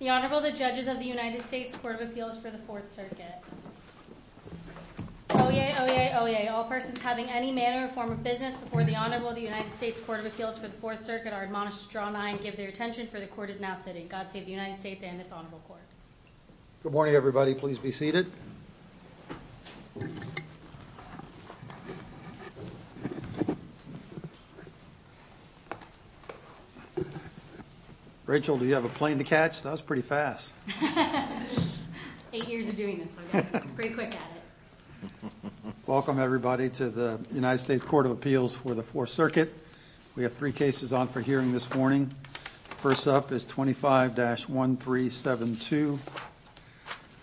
The Honorable, the Judges of the United States Court of Appeals for the Fourth Circuit. Oyez, oyez, oyez. All persons having any manner or form of business before the Honorable of the United States Court of Appeals for the Fourth Circuit are admonished to draw an eye and give their attention, for the Court is now sitting. God save the United States and this Honorable Court. Good morning, everybody. Please be seated. Rachel, do you have a plane to catch? That was pretty fast. Eight years of doing this, I guess. Pretty quick at it. Welcome, everybody, to the United States Court of Appeals for the Fourth Circuit. We have three cases on for hearing this morning. First up is 25-1372,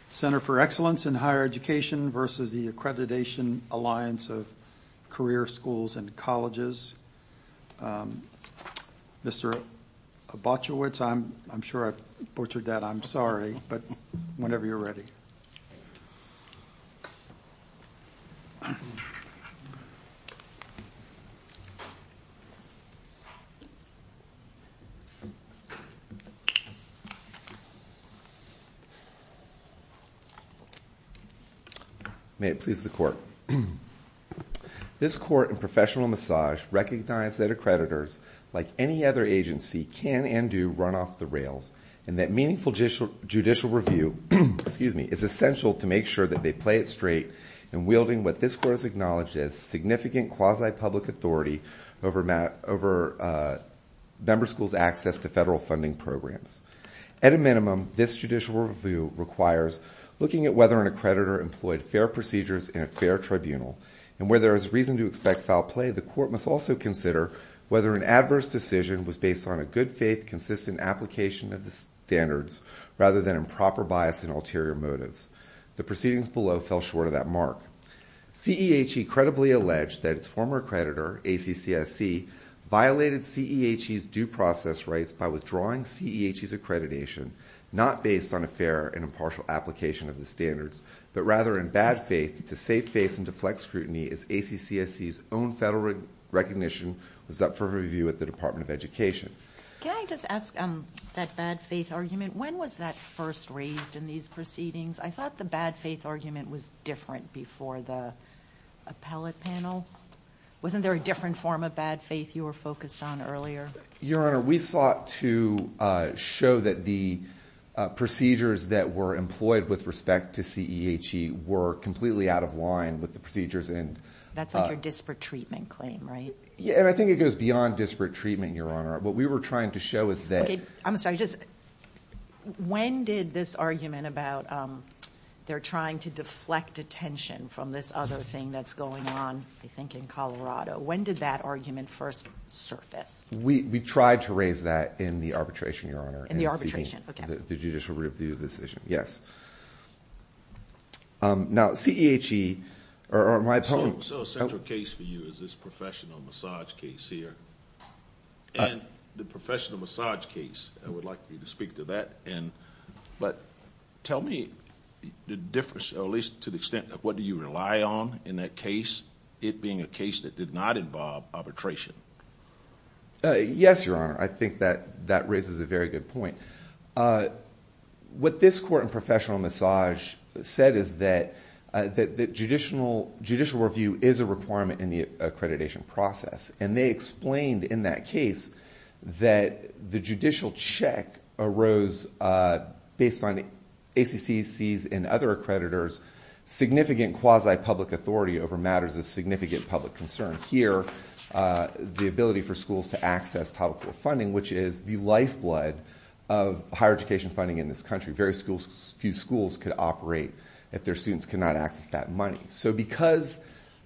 Center for Excellence in Higher Education versus the Accreditation Alliance of Career Schools and Colleges. Mr. Obotchewicz, I'm sure I butchered that, I'm sorry, but whenever you're ready. May it please the Court. This Court in professional massage recognized that accreditors, like any other agency, can and do run off the rails, and that meaningful judicial review is essential to make sure that they play it straight and wielding what this Court has acknowledged as significant quasi-public authority over member schools' access to federal funding programs. At a minimum, this judicial review requires looking at whether an accreditor employed fair procedures in a fair tribunal, and where there is reason to expect foul play, the Court must also consider whether an adverse decision was based on a good-faith, consistent application of the standards rather than improper bias and ulterior motives. The proceedings below fell short of that mark. I thought the bad faith argument was different before the appellate panel. Wasn't there a different form of bad faith you were focused on earlier? Your Honor, we sought to show that the procedures that were employed with respect to CEHE were completely out of line with the procedures. That's like your disparate treatment claim, right? Yeah, and I think it goes beyond disparate treatment, Your Honor. What we were trying to show is that- I'm sorry. When did this argument about they're trying to deflect attention from this other thing that's going on, I think, in Colorado, when did that argument first surface? We tried to raise that in the arbitration, Your Honor. In the arbitration, okay. The judicial review decision, yes. Now, CEHE, or my opponent- So a central case for you is this professional massage case here, and the professional massage case. I would like you to speak to that. Tell me the difference, or at least to the extent of what do you rely on in that case, it being a case that did not involve arbitration. Yes, Your Honor. I think that that raises a very good point. What this court in professional massage said is that judicial review is a requirement in the accreditation process, and they explained in that case that the judicial check arose based on ACC's and other accreditors' significant quasi-public authority over matters of significant public concern. Here, the ability for schools to access topical funding, which is the lifeblood of higher education funding in this country. Very few schools could operate if their students could not access that money. So because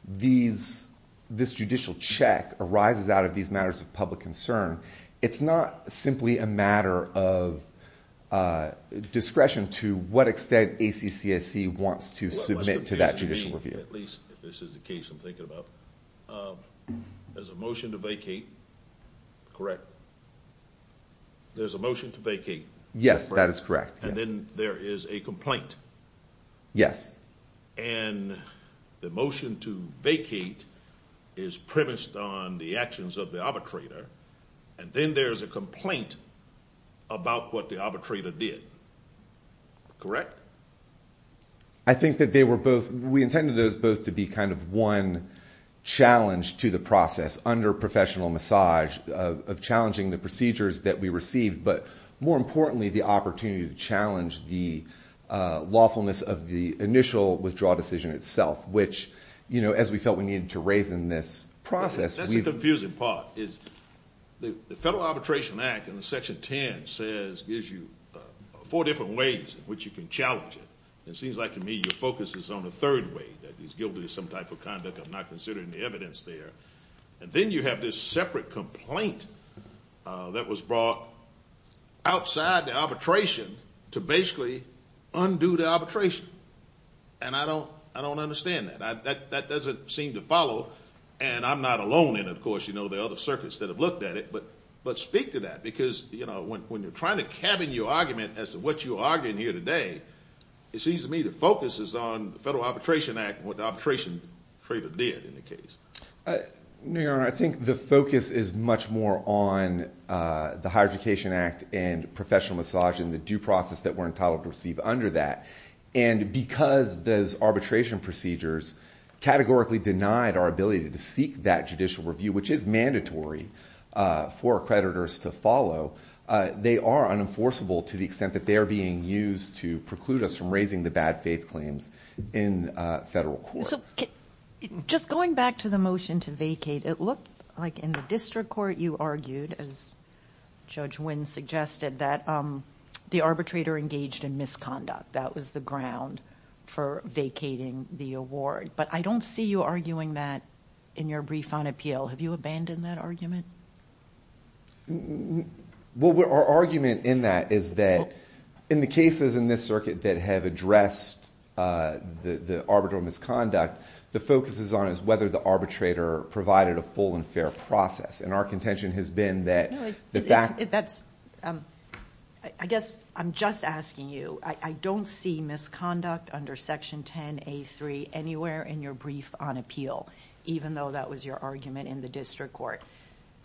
this judicial check arises out of these matters of public concern, it's not simply a matter of discretion to what extent ACC wants to submit to that judicial review. At least, if this is the case I'm thinking about, there's a motion to vacate, correct? There's a motion to vacate. Yes, that is correct. And then there is a complaint. Yes. And the motion to vacate is premised on the actions of the arbitrator, and then there's a complaint about what the arbitrator did, correct? I think that they were both, we intended those both to be kind of one challenge to the process under professional massage of challenging the procedures that we received, but more importantly, the opportunity to challenge the lawfulness of the initial withdrawal decision itself, which, you know, as we felt we needed to raise in this process. That's the confusing part, is the Federal Arbitration Act in Section 10 says, gives you four different ways in which you can challenge it. It seems like to me your focus is on the third way, that he's guilty of some type of conduct, I'm not considering the evidence there. And then you have this separate complaint that was brought outside the arbitration to basically undo the arbitration. And I don't understand that. That doesn't seem to follow, and I'm not alone in it, of course, you know, there are other circuits that have looked at it, but speak to that. Because, you know, when you're trying to cabin your argument as to what you're arguing here today, it seems to me the focus is on the Federal Arbitration Act and what the arbitrator did in the case. I think the focus is much more on the Higher Education Act and professional massage and the due process that we're entitled to receive under that. And because those arbitration procedures categorically denied our ability to seek that judicial review, which is mandatory for accreditors to follow, they are unenforceable to the extent that they are being used to preclude us from raising the bad faith claims in federal court. So just going back to the motion to vacate, it looked like in the district court you argued, as Judge Wynn suggested, that the arbitrator engaged in misconduct. That was the ground for vacating the award. But I don't see you arguing that in your brief on appeal. Have you abandoned that argument? Well, our argument in that is that in the cases in this circuit that have addressed the arbitral misconduct, the focus is on is whether the arbitrator provided a full and fair process. And our contention has been that the fact... I guess I'm just asking you, I don't see misconduct under Section 10A3 anywhere in your brief on appeal, even though that was your argument in the district court.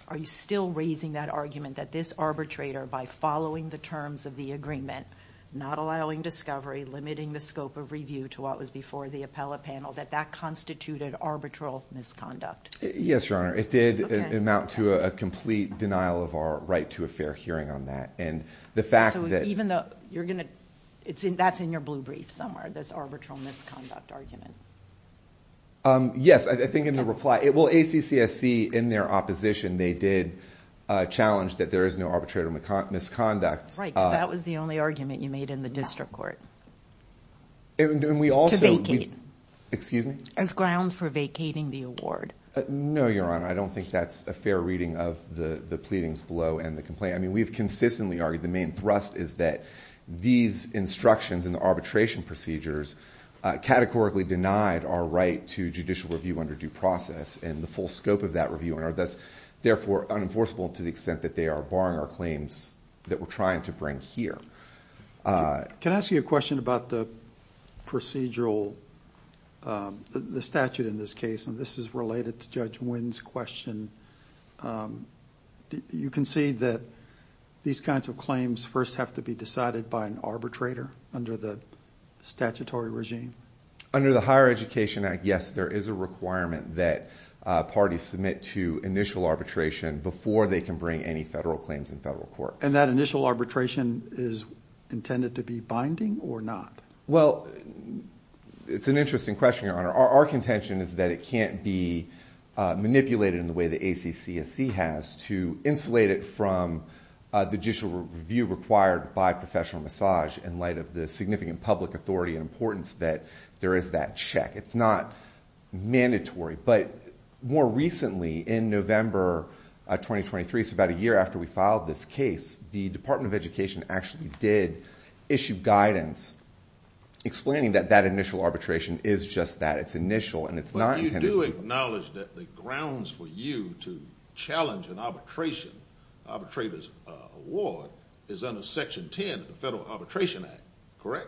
Are you still raising that argument that this arbitrator, by following the terms of the agreement, not allowing discovery, limiting the scope of review to what was before the appellate panel, that that constituted arbitral misconduct? Yes, Your Honor. It did amount to a complete denial of our right to a fair hearing on that. And the fact that... So even though you're going to... that's in your blue brief somewhere, this arbitral misconduct argument. Yes, I think in the reply. Well, ACCSC, in their opposition, they did challenge that there is no arbitral misconduct. Right, because that was the only argument you made in the district court. And we also... Excuse me? As grounds for vacating the award. No, Your Honor, I don't think that's a fair reading of the pleadings below and the complaint. I mean, we've consistently argued the main thrust is that these instructions in the arbitration procedures categorically denied our right to judicial review under due process and the full scope of that review, and are thus, therefore, unenforceable to the extent that they are barring our claims that we're trying to bring here. Can I ask you a question about the procedural... the statute in this case? And this is related to Judge Wynn's question. You concede that these kinds of claims first have to be decided by an arbitrator under the statutory regime? Under the Higher Education Act, yes, there is a requirement that parties submit to initial arbitration before they can bring any federal claims in federal court. And that initial arbitration is intended to be binding or not? Well, it's an interesting question, Your Honor. Our contention is that it can't be manipulated in the way the ACCSC has to insulate it from the judicial review required by professional massage in light of the significant public authority and importance that there is that check. It's not mandatory. But more recently, in November 2023, so about a year after we filed this case, the Department of Education actually did issue guidance explaining that that initial arbitration is just that. It's initial, and it's not intended to be... But you do acknowledge that the grounds for you to challenge an arbitration, arbitrator's award, is under Section 10 of the Federal Arbitration Act, correct?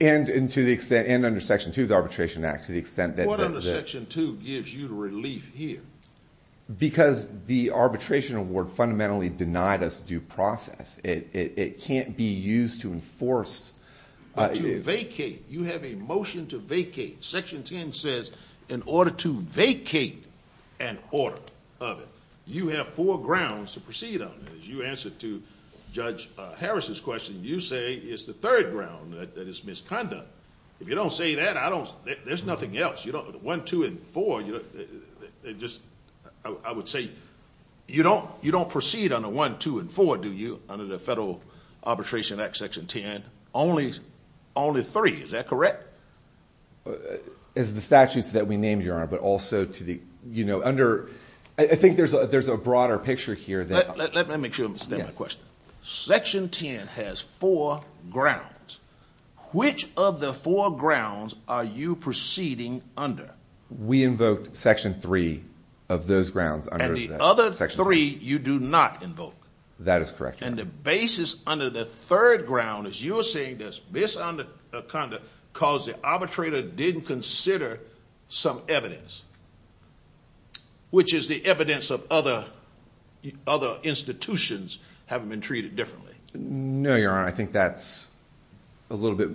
And under Section 2 of the Arbitration Act, to the extent that... What under Section 2 gives you relief here? Because the arbitration award fundamentally denied us due process. It can't be used to enforce... To vacate. You have a motion to vacate. Section 10 says in order to vacate an order of it, you have four grounds to proceed on. As you answered to Judge Harris's question, you say it's the third ground that is misconduct. If you don't say that, I don't... there's nothing else. One, two, and four... I would say you don't proceed under one, two, and four, do you, under the Federal Arbitration Act, Section 10? Only three. Is that correct? As the statutes that we named, Your Honor, but also to the... I think there's a broader picture here. Let me make sure I understand the question. Section 10 has four grounds. Which of the four grounds are you proceeding under? We invoked Section 3 of those grounds under... And the other three you do not invoke? That is correct, Your Honor. And the basis under the third ground is you are saying there's misconduct because the arbitrator didn't consider some evidence, which is the evidence of other institutions having been treated differently. No, Your Honor. I think that's a little bit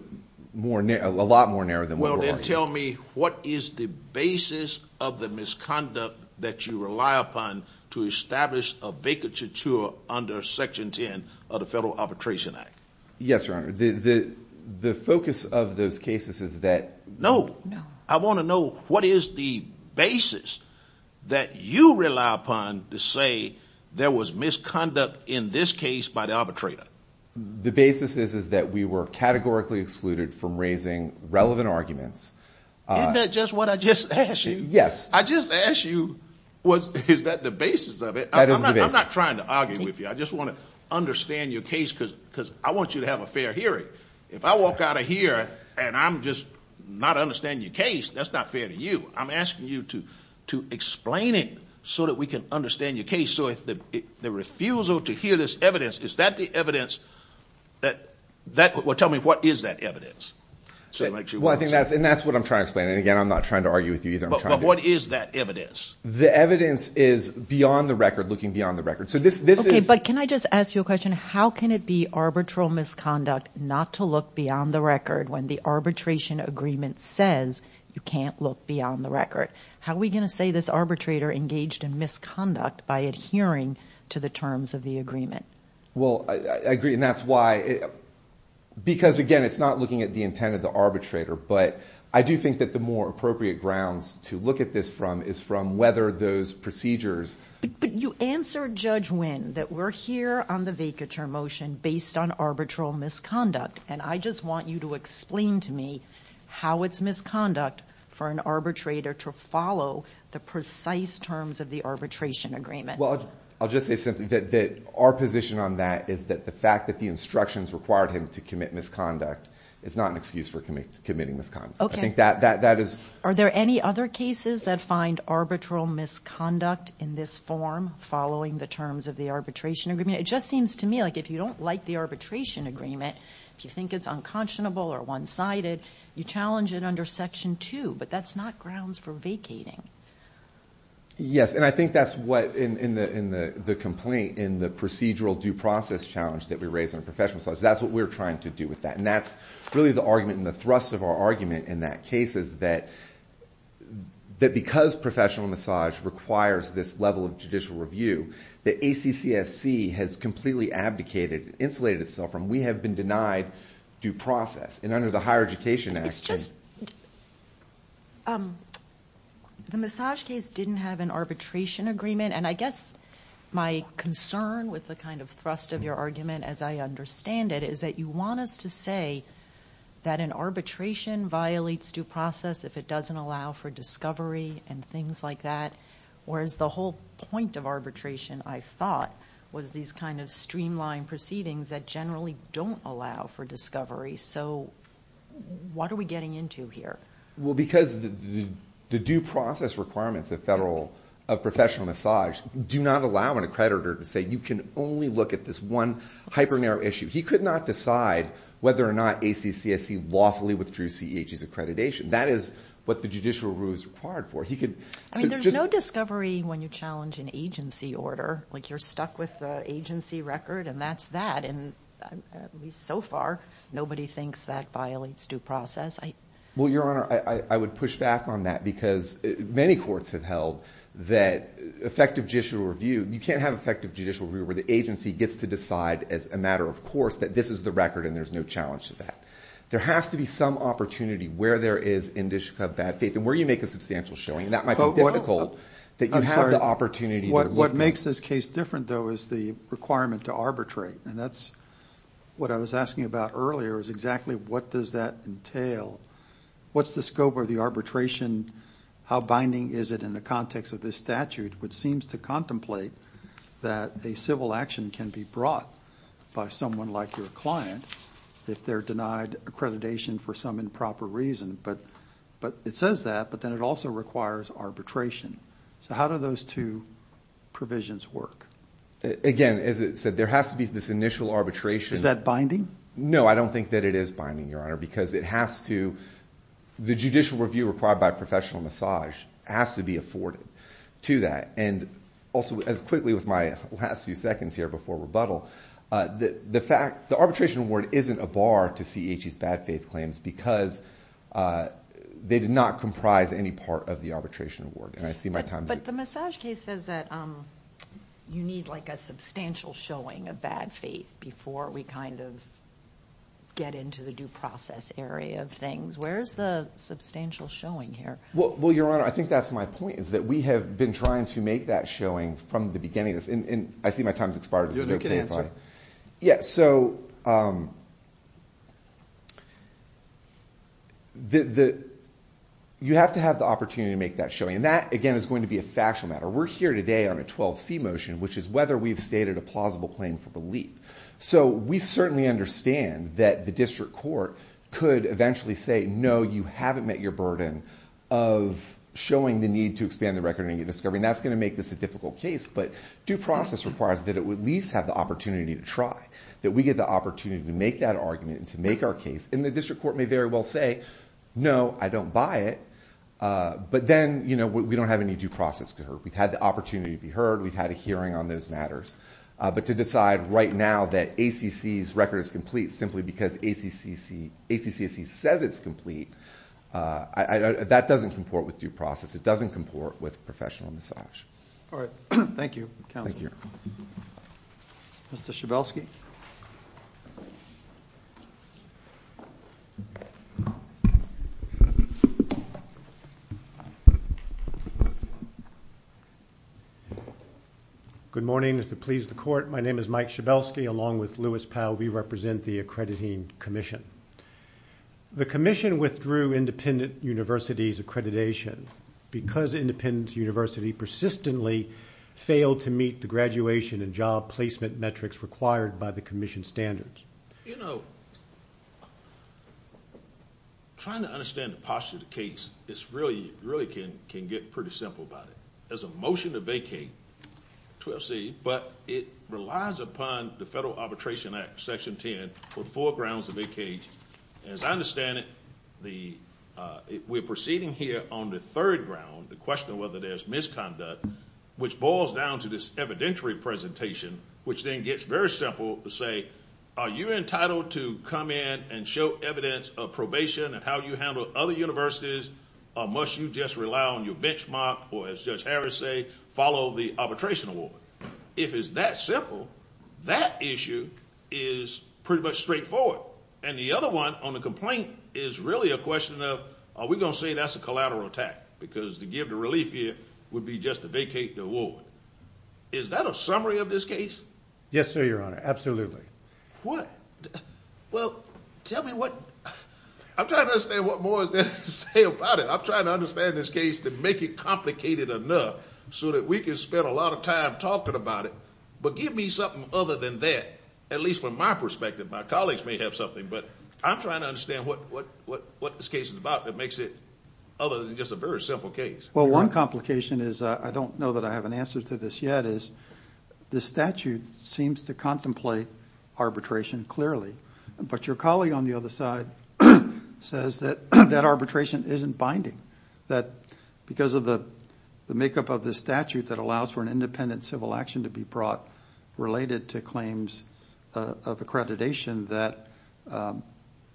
more... a lot more narrow than what we're arguing. Well, then tell me what is the basis of the misconduct that you rely upon to establish a vacature under Section 10 of the Federal Arbitration Act? Yes, Your Honor. The focus of those cases is that... No. I want to know what is the basis that you rely upon to say there was misconduct in this case by the arbitrator. The basis is that we were categorically excluded from raising relevant arguments. Isn't that just what I just asked you? Yes. I just asked you, is that the basis of it? That is the basis. I'm not trying to argue with you. I just want to understand your case because I want you to have a fair hearing. If I walk out of here and I'm just not understanding your case, that's not fair to you. I'm asking you to explain it so that we can understand your case. So the refusal to hear this evidence, is that the evidence that... well, tell me what is that evidence? Well, I think that's... and that's what I'm trying to explain. And, again, I'm not trying to argue with you either. But what is that evidence? The evidence is beyond the record, looking beyond the record. Okay, but can I just ask you a question? How can it be arbitral misconduct not to look beyond the record when the arbitration agreement says you can't look beyond the record? How are we going to say this arbitrator engaged in misconduct by adhering to the terms of the agreement? Well, I agree, and that's why... because, again, it's not looking at the intent of the arbitrator. But I do think that the more appropriate grounds to look at this from is from whether those procedures... But you answered, Judge Winn, that we're here on the vacatur motion based on arbitral misconduct. And I just want you to explain to me how it's misconduct for an arbitrator to follow the precise terms of the arbitration agreement. Well, I'll just say simply that our position on that is that the fact that the instructions required him to commit misconduct is not an excuse for committing misconduct. Okay. And I think that is... Are there any other cases that find arbitral misconduct in this form following the terms of the arbitration agreement? It just seems to me like if you don't like the arbitration agreement, if you think it's unconscionable or one-sided, you challenge it under Section 2. But that's not grounds for vacating. Yes, and I think that's what... in the complaint, in the procedural due process challenge that we raised on the professional side, that's what we're trying to do with that. And that's really the argument and the thrust of our argument in that case is that because professional massage requires this level of judicial review, that ACCSC has completely abdicated, insulated itself from, we have been denied due process. And under the Higher Education Act... It's just... The massage case didn't have an arbitration agreement. And I guess my concern with the kind of thrust of your argument, as I understand it, is that you want us to say that an arbitration violates due process if it doesn't allow for discovery and things like that. Whereas the whole point of arbitration, I thought, was these kind of streamlined proceedings that generally don't allow for discovery. So, what are we getting into here? Well, because the due process requirements of professional massage do not allow an accreditor to say you can only look at this one hyper-narrow issue. He could not decide whether or not ACCSC lawfully withdrew CEH's accreditation. That is what the judicial rule is required for. He could... I mean, there's no discovery when you challenge an agency order. Like, you're stuck with the agency record, and that's that. And so far, nobody thinks that violates due process. Well, Your Honor, I would push back on that because many courts have held that effective judicial review... You can't have effective judicial review where the agency gets to decide as a matter of course that this is the record and there's no challenge to that. There has to be some opportunity where there is indicia of bad faith and where you make a substantial showing. And that might be difficult...... that you have the opportunity... What makes this case different, though, is the requirement to arbitrate. And that's what I was asking about earlier, is exactly what does that entail? What's the scope of the arbitration? How binding is it in the context of this statute, which seems to contemplate that a civil action can be brought by someone like your client... if they're denied accreditation for some improper reason. But, it says that, but then it also requires arbitration. So, how do those two provisions work? Again, as it said, there has to be this initial arbitration... Is that binding? No, I don't think that it is binding, Your Honor, because it has to... the judicial review required by professional misogyny has to be afforded to that. And also, as quickly with my last few seconds here before rebuttal, the fact... the arbitration award isn't a bar to CEHE's bad faith claims because they did not comprise any part of the arbitration award. And I see my time... But, the massage case says that you need like a substantial showing of bad faith... before we kind of get into the due process area of things. Where is the substantial showing here? Well, Your Honor, I think that's my point is that we have been trying to make that showing from the beginning. And, I see my time has expired. You have no good answer? Yeah, so... You have to have the opportunity to make that showing. And that, again, is going to be a factual matter. We're here today on a 12C motion, which is whether we've stated a plausible claim for belief. So, we certainly understand that the district court could eventually say, no, you haven't met your burden... of showing the need to expand the record and get discovery. And, that's going to make this a difficult case. But, due process requires that it would at least have the opportunity to try. That we get the opportunity to make that argument and to make our case. And, the district court may very well say, no, I don't buy it. But then, you know, we don't have any due process. We've had the opportunity to be heard. We've had a hearing on those matters. But, to decide right now that ACC's record is complete, simply because ACC says it's complete... That doesn't comport with due process. It doesn't comport with professional misogynist. All right. Thank you, Counsel. Thank you, Your Honor. Mr. Schabelsky. Good morning. If it pleases the Court, my name is Mike Schabelsky, along with Louis Powell. We represent the Accrediting Commission. The Commission withdrew Independent University's accreditation... placement metrics required by the Commission standards. You know, trying to understand the posture of the case, it really can get pretty simple about it. There's a motion to vacate 12C, but it relies upon the Federal Arbitration Act, Section 10, for the four grounds of vacate. As I understand it, we're proceeding here on the third ground, the question of whether there's misconduct... which boils down to this evidentiary presentation, which then gets very simple to say... Are you entitled to come in and show evidence of probation and how you handle other universities? Or, must you just rely on your benchmark, or as Judge Harris say, follow the arbitration award? If it's that simple, that issue is pretty much straightforward. And, the other one on the complaint is really a question of... Are we going to say that's a collateral attack, because to give the relief here would be just to vacate the award? Is that a summary of this case? Yes, sir, Your Honor. Absolutely. What? Well, tell me what... I'm trying to understand what more is there to say about it. I'm trying to understand this case to make it complicated enough, so that we can spend a lot of time talking about it. But, give me something other than that, at least from my perspective. My colleagues may have something, but I'm trying to understand what this case is about that makes it... other than just a very simple case. Well, one complication is, I don't know that I have an answer to this yet, is... the statute seems to contemplate arbitration clearly. But, your colleague on the other side says that that arbitration isn't binding. That because of the makeup of the statute that allows for an independent civil action to be brought... related to claims of accreditation,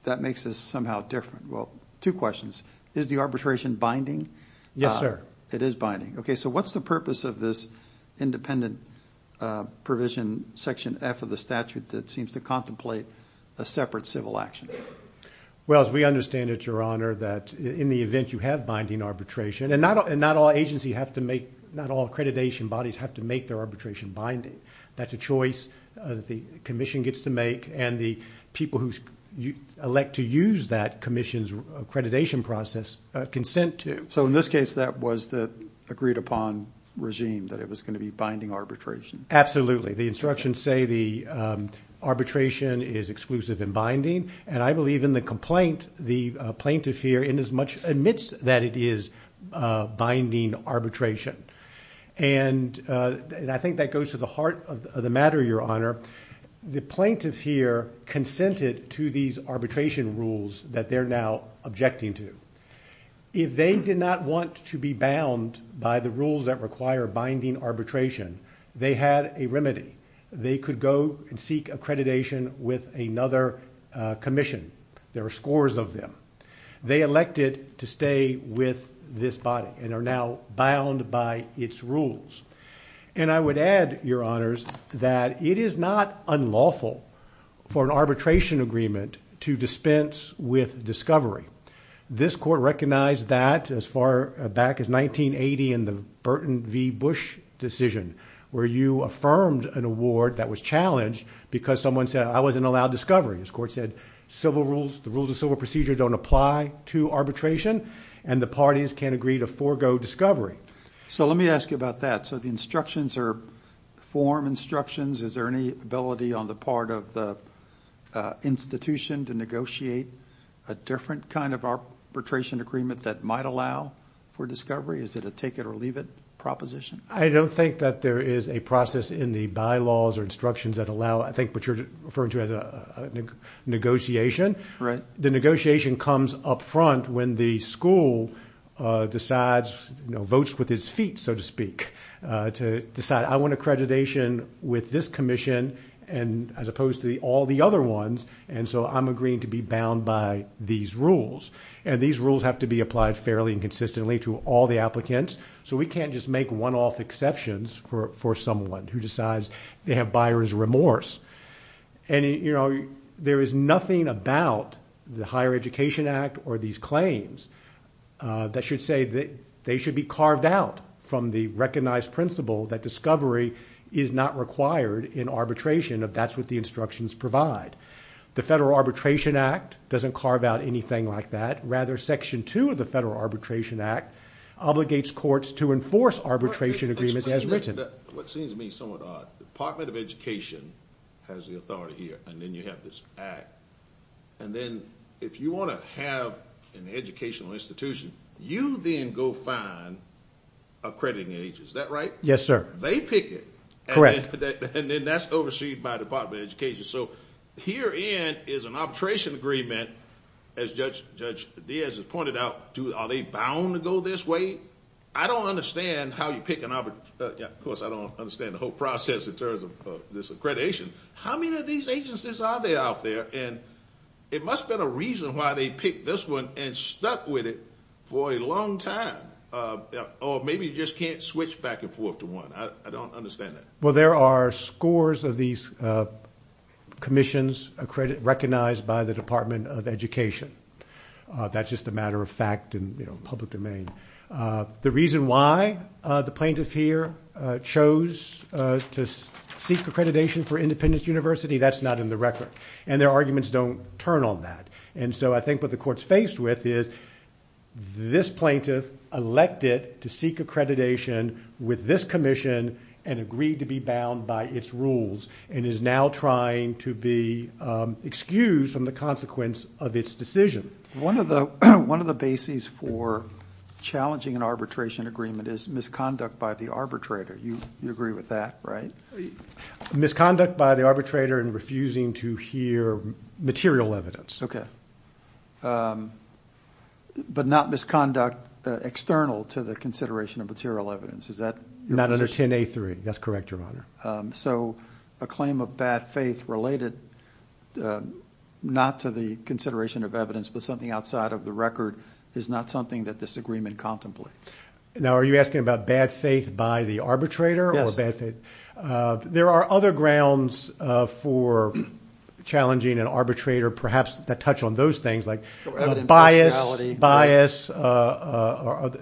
that makes this somehow different. Well, two questions. Is the arbitration binding? Yes, sir. It is binding. Okay. So, what's the purpose of this independent provision, Section F of the statute... that seems to contemplate a separate civil action? Well, as we understand it, Your Honor, that in the event you have binding arbitration... And, not all agency have to make... not all accreditation bodies have to make their arbitration binding. That's a choice that the Commission gets to make... and the people who elect to use that Commission's accreditation process, consent to. So, in this case, that was the agreed upon regime, that it was going to be binding arbitration. Absolutely. The instructions say the arbitration is exclusive and binding. And, I believe in the complaint, the plaintiff here in as much admits that it is binding arbitration. And, I think that goes to the heart of the matter, Your Honor. The plaintiff here consented to these arbitration rules that they're now objecting to. If they did not want to be bound by the rules that require binding arbitration, they had a remedy. They could go and seek accreditation with another Commission. There are scores of them. They elected to stay with this body and are now bound by its rules. And, I would add, Your Honors, that it is not unlawful for an arbitration agreement to dispense with discovery. This Court recognized that as far back as 1980 in the Burton v. Bush decision, where you affirmed an award that was challenged because someone said, I wasn't allowed discovery. This Court said the rules of civil procedure don't apply to arbitration, and the parties can't agree to forego discovery. So, let me ask you about that. So, the instructions are form instructions. Is there any ability on the part of the institution to negotiate a different kind of arbitration agreement that might allow for discovery? Is it a take-it-or-leave-it proposition? I don't think that there is a process in the bylaws or instructions that allow, I think, what you're referring to as a negotiation. Right. The negotiation comes up front when the school decides, votes with its feet, so to speak, to decide, I want accreditation with this commission as opposed to all the other ones, and so I'm agreeing to be bound by these rules. And these rules have to be applied fairly and consistently to all the applicants, so we can't just make one-off exceptions for someone who decides they have buyer's remorse. And, you know, there is nothing about the Higher Education Act or these claims that should say that they should be carved out from the recognized principle that discovery is not required in arbitration if that's what the instructions provide. The Federal Arbitration Act doesn't carve out anything like that. Rather, Section 2 of the Federal Arbitration Act obligates courts to enforce arbitration agreements as written. What seems to me somewhat odd. Department of Education has the authority here, and then you have this act. And then if you want to have an educational institution, you then go find accrediting agents. Is that right? Yes, sir. They pick it. And then that's overseen by the Department of Education. So herein is an arbitration agreement, as Judge Diaz has pointed out. Are they bound to go this way? I don't understand how you pick an arbitration. Of course, I don't understand the whole process in terms of this accreditation. How many of these agencies are there out there? And it must have been a reason why they picked this one and stuck with it for a long time. Or maybe you just can't switch back and forth to one. I don't understand that. Well, there are scores of these commissions recognized by the Department of Education. That's just a matter of fact in public domain. The reason why the plaintiff here chose to seek accreditation for Independence University, that's not in the record. And their arguments don't turn on that. And so I think what the court's faced with is this plaintiff elected to seek accreditation with this commission and agreed to be bound by its rules and is now trying to be excused from the consequence of its decision. One of the bases for challenging an arbitration agreement is misconduct by the arbitrator. You agree with that, right? Misconduct by the arbitrator in refusing to hear material evidence. Okay. But not misconduct external to the consideration of material evidence. Is that your position? Not under 10A3. That's correct, Your Honor. So a claim of bad faith related not to the consideration of evidence but something outside of the record is not something that this agreement contemplates. Now, are you asking about bad faith by the arbitrator or bad faith? Yes. There are other grounds for challenging an arbitrator perhaps that touch on those things like bias,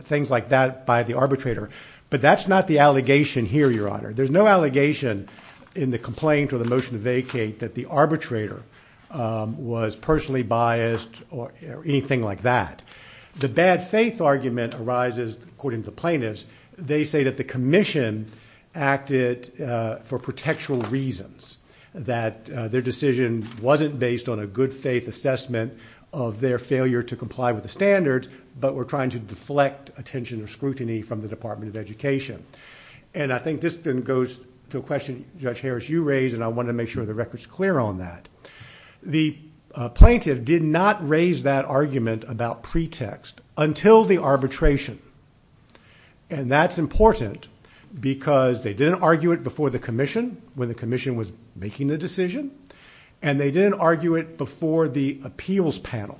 things like that by the arbitrator. But that's not the allegation here, Your Honor. There's no allegation in the complaint or the motion to vacate that the arbitrator was personally biased or anything like that. The bad faith argument arises, according to the plaintiffs, they say that the commission acted for protectural reasons, that their decision wasn't based on a good faith assessment of their failure to comply with the standards but were trying to deflect attention or scrutiny from the Department of Education. And I think this then goes to a question, Judge Harris, you raised, and I want to make sure the record's clear on that. The plaintiff did not raise that argument about pretext until the arbitration, and that's important because they didn't argue it before the commission, when the commission was making the decision, and they didn't argue it before the appeals panel.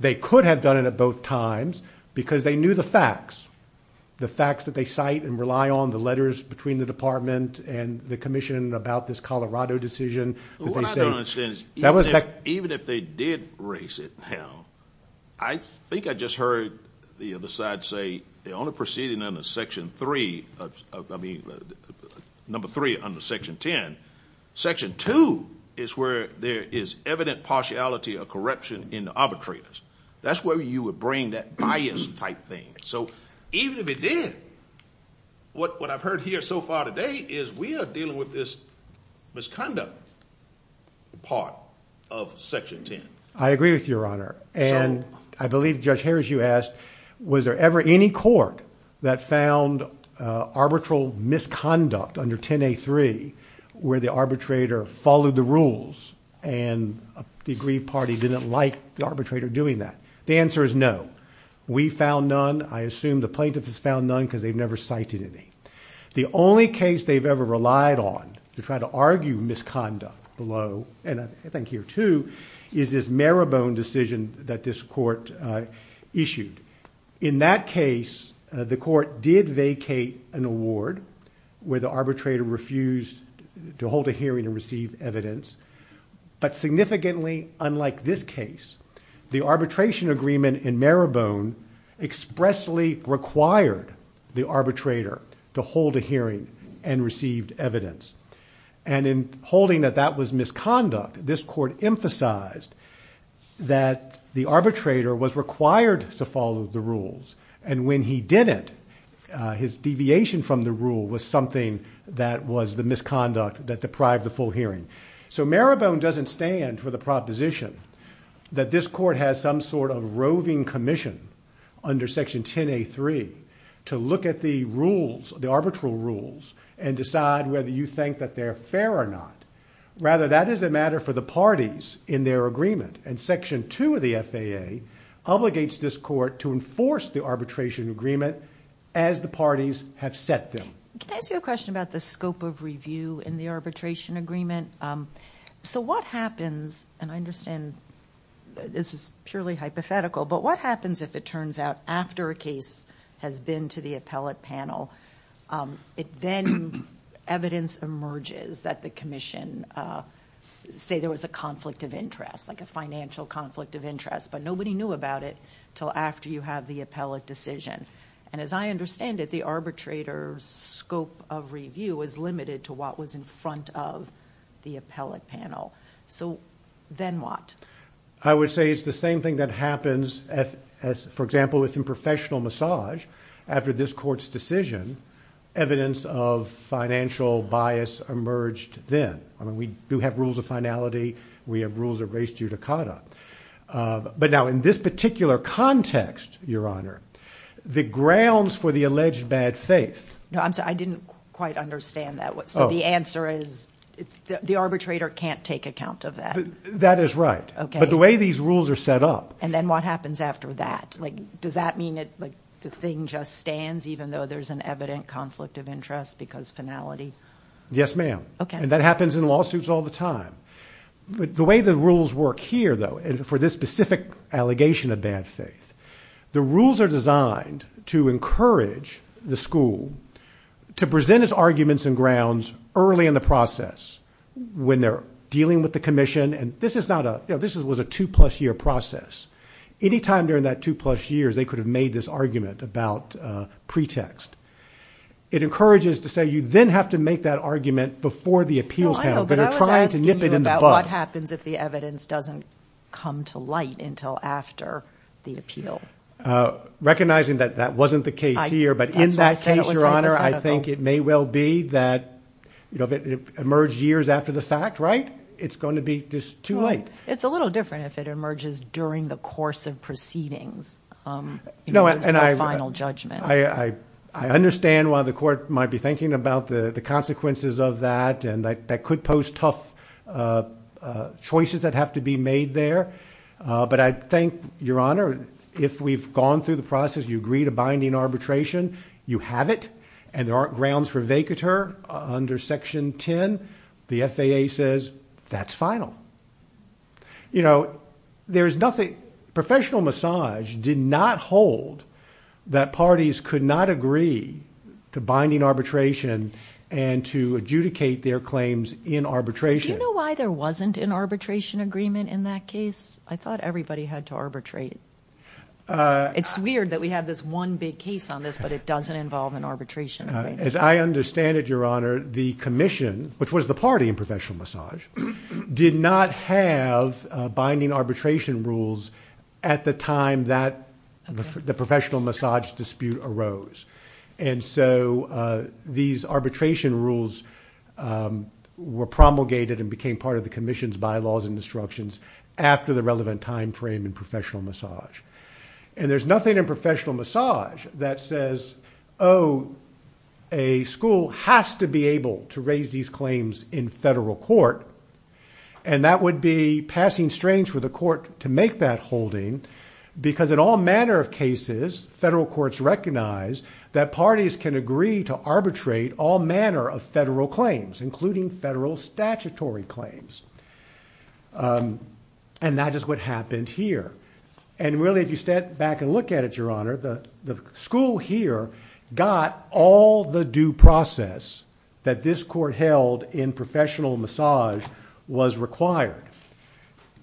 They could have done it at both times because they knew the facts, the facts that they cite and rely on, the letters between the department and the commission about this Colorado decision. What I don't understand is even if they did raise it now, I think I just heard the other side say the only proceeding under Section 3, I mean number 3 under Section 10, Section 2 is where there is evident partiality or corruption in the arbitrators. That's where you would bring that bias type thing. So even if it did, what I've heard here so far today is we are dealing with this misconduct part of Section 10. I agree with you, Your Honor, and I believe Judge Harris, you asked, was there ever any court that found arbitral misconduct under 10A3 where the arbitrator followed the rules and the aggrieved party didn't like the arbitrator doing that? The answer is no. We found none. I assume the plaintiff has found none because they've never cited any. The only case they've ever relied on to try to argue misconduct below, and I think here too, is this Marabone decision that this court issued. In that case, the court did vacate an award where the arbitrator refused to hold a hearing and receive evidence, but significantly unlike this case, the arbitration agreement in Marabone expressly required the arbitrator to hold a hearing and receive evidence, and in holding that that was misconduct, this court emphasized that the arbitrator was required to follow the rules, and when he didn't, his deviation from the rule was something that was the misconduct that deprived the full hearing. So Marabone doesn't stand for the proposition that this court has some sort of roving commission under Section 10A3 to look at the rules, the arbitral rules, and decide whether you think that they're fair or not. Rather, that is a matter for the parties in their agreement, and Section 2 of the FAA obligates this court to enforce the arbitration agreement as the parties have set them. Can I ask you a question about the scope of review in the arbitration agreement? So what happens, and I understand this is purely hypothetical, but what happens if it turns out after a case has been to the appellate panel, then evidence emerges that the commission, say there was a conflict of interest, like a financial conflict of interest, but nobody knew about it until after you have the appellate decision, and as I understand it, the arbitrator's scope of review is limited to what was in front of the appellate panel. So then what? I would say it's the same thing that happens, for example, if in professional massage, after this court's decision, evidence of financial bias emerged then. We do have rules of finality. We have rules of res judicata. But now in this particular context, Your Honor, the grounds for the alleged bad faith... No, I'm sorry, I didn't quite understand that. So the answer is the arbitrator can't take account of that? That is right. Okay. But the way these rules are set up... And then what happens after that? Does that mean the thing just stands, even though there's an evident conflict of interest because of finality? Yes, ma'am. Okay. And that happens in lawsuits all the time. The way the rules work here, though, for this specific allegation of bad faith, the rules are designed to encourage the school to present its arguments and grounds early in the process when they're dealing with the commission. And this was a two-plus-year process. Any time during that two-plus years, they could have made this argument about pretext. It encourages to say you then have to make that argument before the appeals panel. But they're trying to nip it in the bud. I was asking you about what happens if the evidence doesn't come to light until after the appeal. Recognizing that that wasn't the case here... That's why I said it was hypothetical.... but in that case, Your Honor, I think it may well be that if it emerged years after the fact, right, it's going to be just too late. It's a little different if it emerges during the course of proceedings... No, and I...... in the course of final judgment. I understand why the court might be thinking about the consequences of that and that could pose tough choices that have to be made there. But I think, Your Honor, if we've gone through the process, you agree to binding arbitration, you have it, and there aren't grounds for vacatur under Section 10. The FAA says that's final. You know, there's nothing... Professional massage did not hold that parties could not agree to binding arbitration and to adjudicate their claims in arbitration. Do you know why there wasn't an arbitration agreement in that case? I thought everybody had to arbitrate. It's weird that we have this one big case on this, but it doesn't involve an arbitration agreement. As I understand it, Your Honor, the Commission, which was the party in professional massage, did not have binding arbitration rules at the time that the professional massage dispute arose. And so these arbitration rules were promulgated and became part of the Commission's bylaws and instructions after the relevant time frame in professional massage. And there's nothing in professional massage that says, oh, a school has to be able to raise these claims in federal court, and that would be passing strains for the court to make that holding because in all manner of cases, federal courts recognize that parties can agree to arbitrate all manner of federal claims, including federal statutory claims. And that is what happened here. And really, if you step back and look at it, Your Honor, the school here got all the due process that this court held in professional massage was required.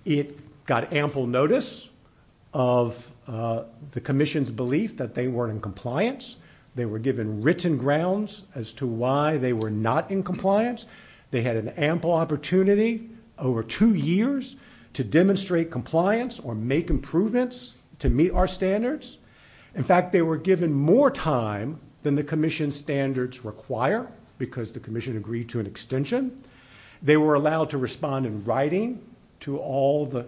It got ample notice of the Commission's belief that they were in compliance. They were given written grounds as to why they were not in compliance. They had an ample opportunity over two years to demonstrate compliance or make improvements to meet our standards. In fact, they were given more time than the Commission's standards require because the Commission agreed to an extension. They were allowed to respond in writing to all the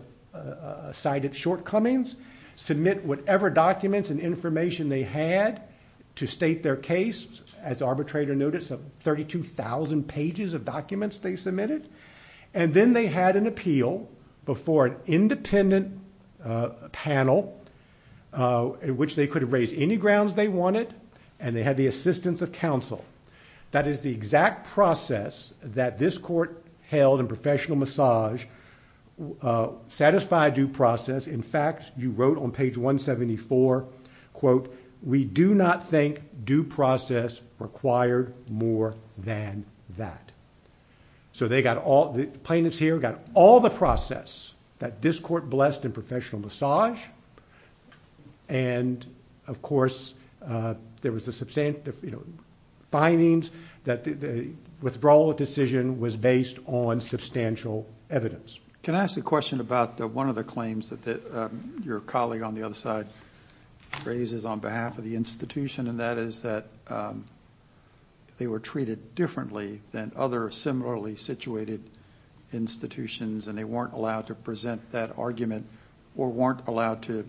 cited shortcomings, submit whatever documents and information they had to state their case. As the arbitrator noted, 32,000 pages of documents they submitted. And then they had an appeal before an independent panel in which they could raise any grounds they wanted, and they had the assistance of counsel. That is the exact process that this court held in professional massage satisfied due process. In fact, you wrote on page 174, quote, we do not think due process required more than that. So they got all the plaintiffs here got all the process that this court blessed in professional massage. And, of course, there was the findings that the withdrawal decision was based on substantial evidence. Can I ask a question about one of the claims that your colleague on the other side raises on behalf of the institution, and that is that they were treated differently than other similarly situated institutions, and they weren't allowed to present that argument or weren't allowed to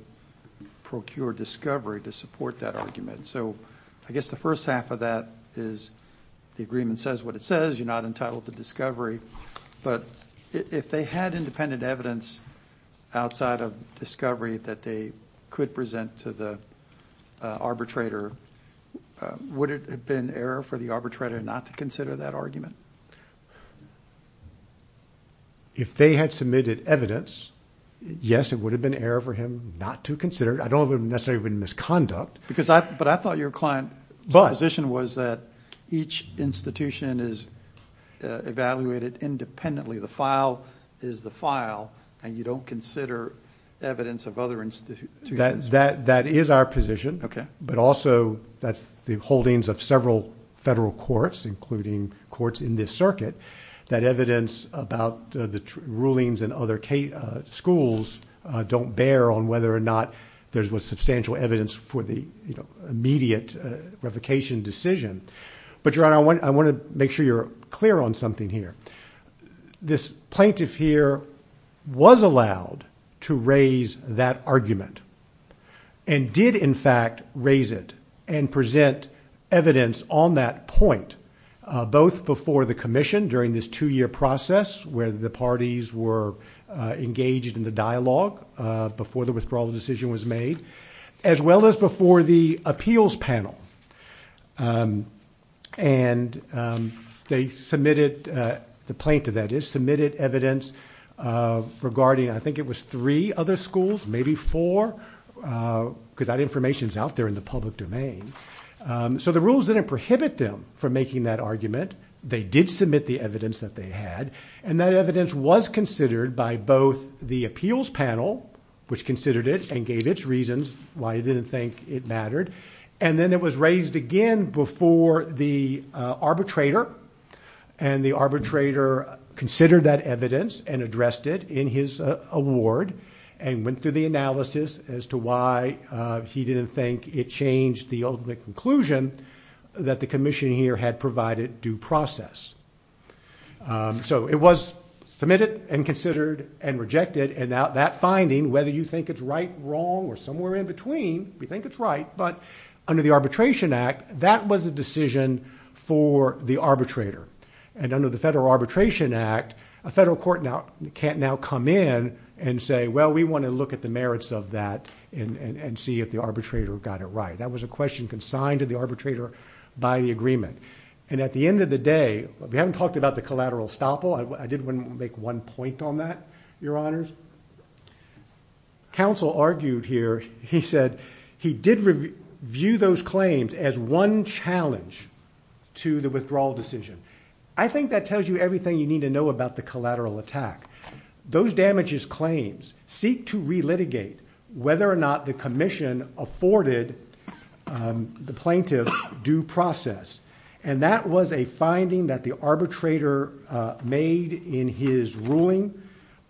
procure discovery to support that argument. So I guess the first half of that is the agreement says what it says. You're not entitled to discovery. But if they had independent evidence outside of discovery that they could present to the arbitrator, would it have been error for the arbitrator not to consider that argument? If they had submitted evidence, yes, it would have been error for him not to consider it. I don't know if it would have necessarily been misconduct. But I thought your client's position was that each institution is evaluated independently. The file is the file, and you don't consider evidence of other institutions. That is our position. But also that's the holdings of several federal courts, including courts in this circuit, that evidence about the rulings in other schools don't bear on whether or not there was substantial evidence for the immediate revocation decision. But, Your Honor, I want to make sure you're clear on something here. This plaintiff here was allowed to raise that argument and did, in fact, raise it and present evidence on that point, both before the commission during this two-year process where the parties were engaged in the dialogue before the withdrawal decision was made, as well as before the appeals panel. And they submitted, the plaintiff, that is, submitted evidence regarding, I think it was three other schools, maybe four, because that information's out there in the public domain. So the rules didn't prohibit them from making that argument. They did submit the evidence that they had, and that evidence was considered by both the appeals panel, which considered it and gave its reasons why it didn't think it mattered, and then it was raised again before the arbitrator, and the arbitrator considered that evidence and addressed it in his award and went through the analysis as to why he didn't think it changed the ultimate conclusion that the commission here had provided due process. So it was submitted and considered and rejected, and that finding, whether you think it's right, wrong, or somewhere in between, we think it's right, but under the Arbitration Act, that was a decision for the arbitrator. And under the Federal Arbitration Act, a federal court can't now come in and say, well, we want to look at the merits of that and see if the arbitrator got it right. That was a question consigned to the arbitrator by the agreement. And at the end of the day, we haven't talked about the collateral estoppel. I did want to make one point on that, Your Honors. Counsel argued here, he said, he did view those claims as one challenge to the withdrawal decision. I think that tells you everything you need to know about the collateral attack. Those damages claims seek to relitigate whether or not the commission afforded the plaintiff due process. And that was a finding that the arbitrator made in his ruling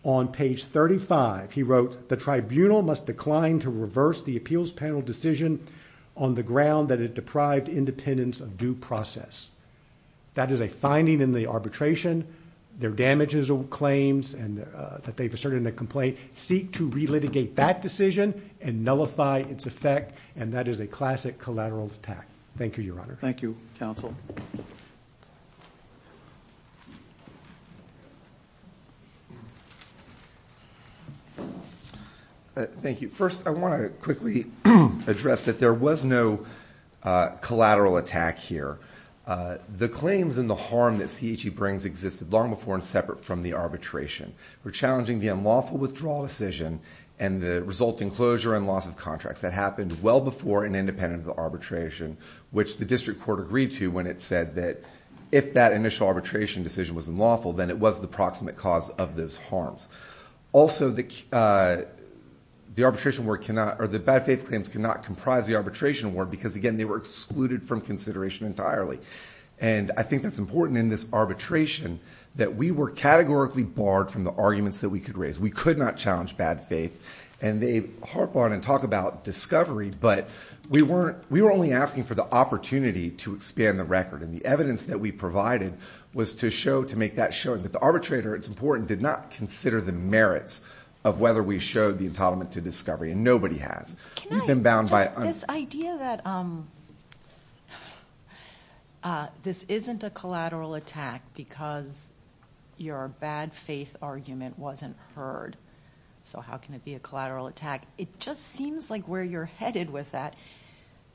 on page 35. He wrote, the tribunal must decline to reverse the appeals panel decision on the ground that it deprived independence of due process. That is a finding in the arbitration. Their damages or claims that they've asserted in the complaint seek to relitigate that decision and nullify its effect. And that is a classic collateral attack. Thank you, Your Honor. Thank you, Counsel. Thank you. First, I want to quickly address that there was no collateral attack here. The claims and the harm that CHE brings existed long before and separate from the arbitration. We're challenging the unlawful withdrawal decision and the resulting closure and loss of contracts. That happened well before and independent of the arbitration, which the district court agreed to when it said that if that initial arbitration decision was unlawful, then it was the proximate cause of those harms. Also, the arbitration work cannot, or the bad faith claims cannot comprise the arbitration work because, again, they were excluded from consideration entirely. And I think that's important in this arbitration that we were categorically barred from the arguments that we could raise. We could not challenge bad faith. And they harp on and talk about discovery, but we were only asking for the opportunity to expand the record. And the evidence that we provided was to make that show that the arbitrator, it's important, did not consider the merits of whether we showed the entitlement to discovery, and nobody has. This idea that this isn't a collateral attack because your bad faith argument wasn't heard, so how can it be a collateral attack? It just seems like where you're headed with that.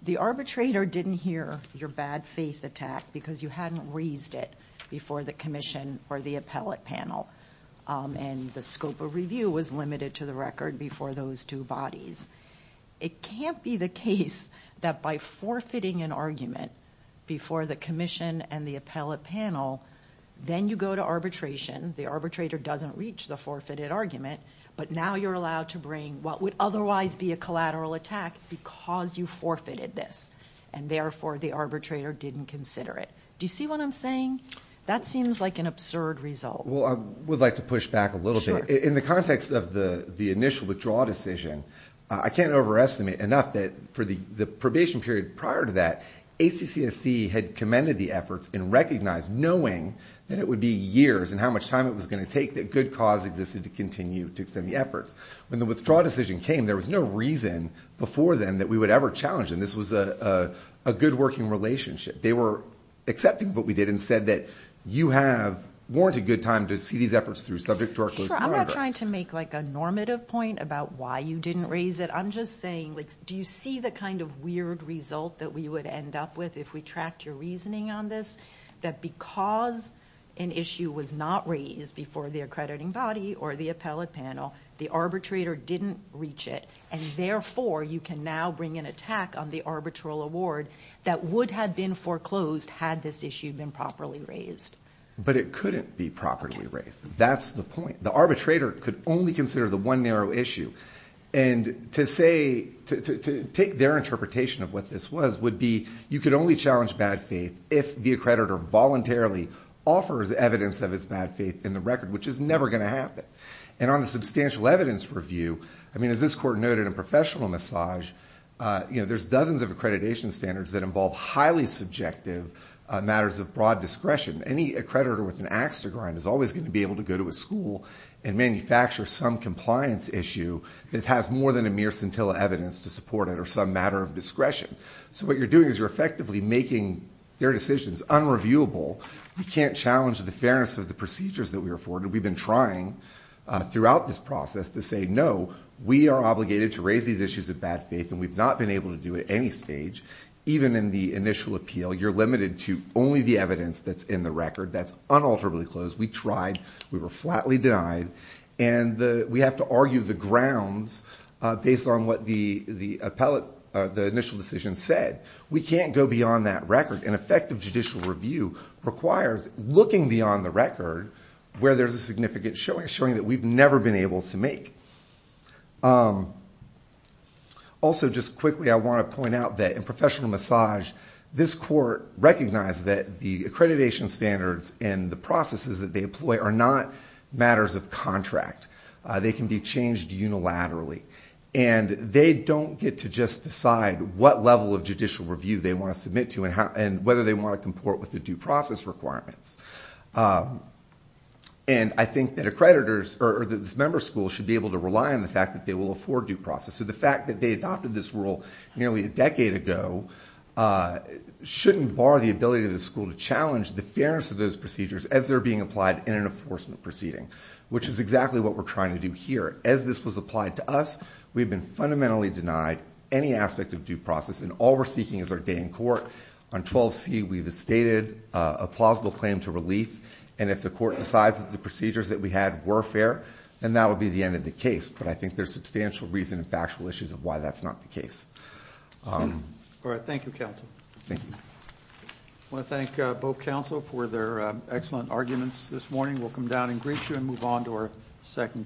The arbitrator didn't hear your bad faith attack because you hadn't raised it before the commission or the appellate panel, and the scope of review was limited to the record before those two bodies. It can't be the case that by forfeiting an argument before the commission and the appellate panel, then you go to arbitration, the arbitrator doesn't reach the forfeited argument, but now you're allowed to bring what would otherwise be a collateral attack because you forfeited this, and therefore the arbitrator didn't consider it. Do you see what I'm saying? That seems like an absurd result. Well, I would like to push back a little bit. In the context of the initial withdrawal decision, I can't overestimate enough that for the probation period prior to that, ACCSC had commended the efforts and recognized knowing that it would be years and how much time it was going to take that good cause existed to continue to extend the efforts. When the withdrawal decision came, there was no reason before then that we would ever challenge them. This was a good working relationship. They were accepting of what we did and said that you have warranted good time to see these efforts through, subject to our close monitoring. I'm not trying to make a normative point about why you didn't raise it. I'm just saying, do you see the kind of weird result that we would end up with if we tracked your reasoning on this? That because an issue was not raised before the accrediting body or the appellate panel, the arbitrator didn't reach it, and therefore you can now bring an attack on the arbitral award that would have been foreclosed had this issue been properly raised. But it couldn't be properly raised. That's the point. The arbitrator could only consider the one narrow issue. And to take their interpretation of what this was would be you could only challenge bad faith if the accreditor voluntarily offers evidence of its bad faith in the record, which is never going to happen. And on the substantial evidence review, as this court noted in Professional Massage, there's dozens of accreditation standards that involve highly subjective matters of broad discretion. Any accreditor with an axe to grind is always going to be able to go to a school and manufacture some compliance issue that has more than a mere scintilla evidence to support it or some matter of discretion. So what you're doing is you're effectively making their decisions unreviewable. You can't challenge the fairness of the procedures that we're afforded. We've been trying throughout this process to say, no, we are obligated to raise these issues of bad faith and we've not been able to do it at any stage, even in the initial appeal. You're limited to only the evidence that's in the record. That's unalterably closed. We tried. We were flatly denied. And we have to argue the grounds based on what the initial decision said. We can't go beyond that record. An effective judicial review requires looking beyond the record where there's a significant showing that we've never been able to make. Also, just quickly, I want to point out that in professional massage, this court recognized that the accreditation standards and the processes that they employ are not matters of contract. They can be changed unilaterally. And they don't get to just decide what level of judicial review they want to submit to and whether they want to comport with the due process requirements. And I think that accreditors or that this member school should be able to rely on the fact that they will afford due process. So the fact that they adopted this rule nearly a decade ago shouldn't bar the ability of the school to challenge the fairness of those procedures as they're being applied in an enforcement proceeding, which is exactly what we're trying to do here. As this was applied to us, we've been fundamentally denied any aspect of due process, and all we're seeking is our day in court. On 12C, we've stated a plausible claim to relief, and if the court decides that the procedures that we had were fair, then that will be the end of the case. But I think there's substantial reason and factual issues of why that's not the case. All right. Thank you, counsel. Thank you. I want to thank both counsel for their excellent arguments this morning. We'll come down and greet you and move on to our second case.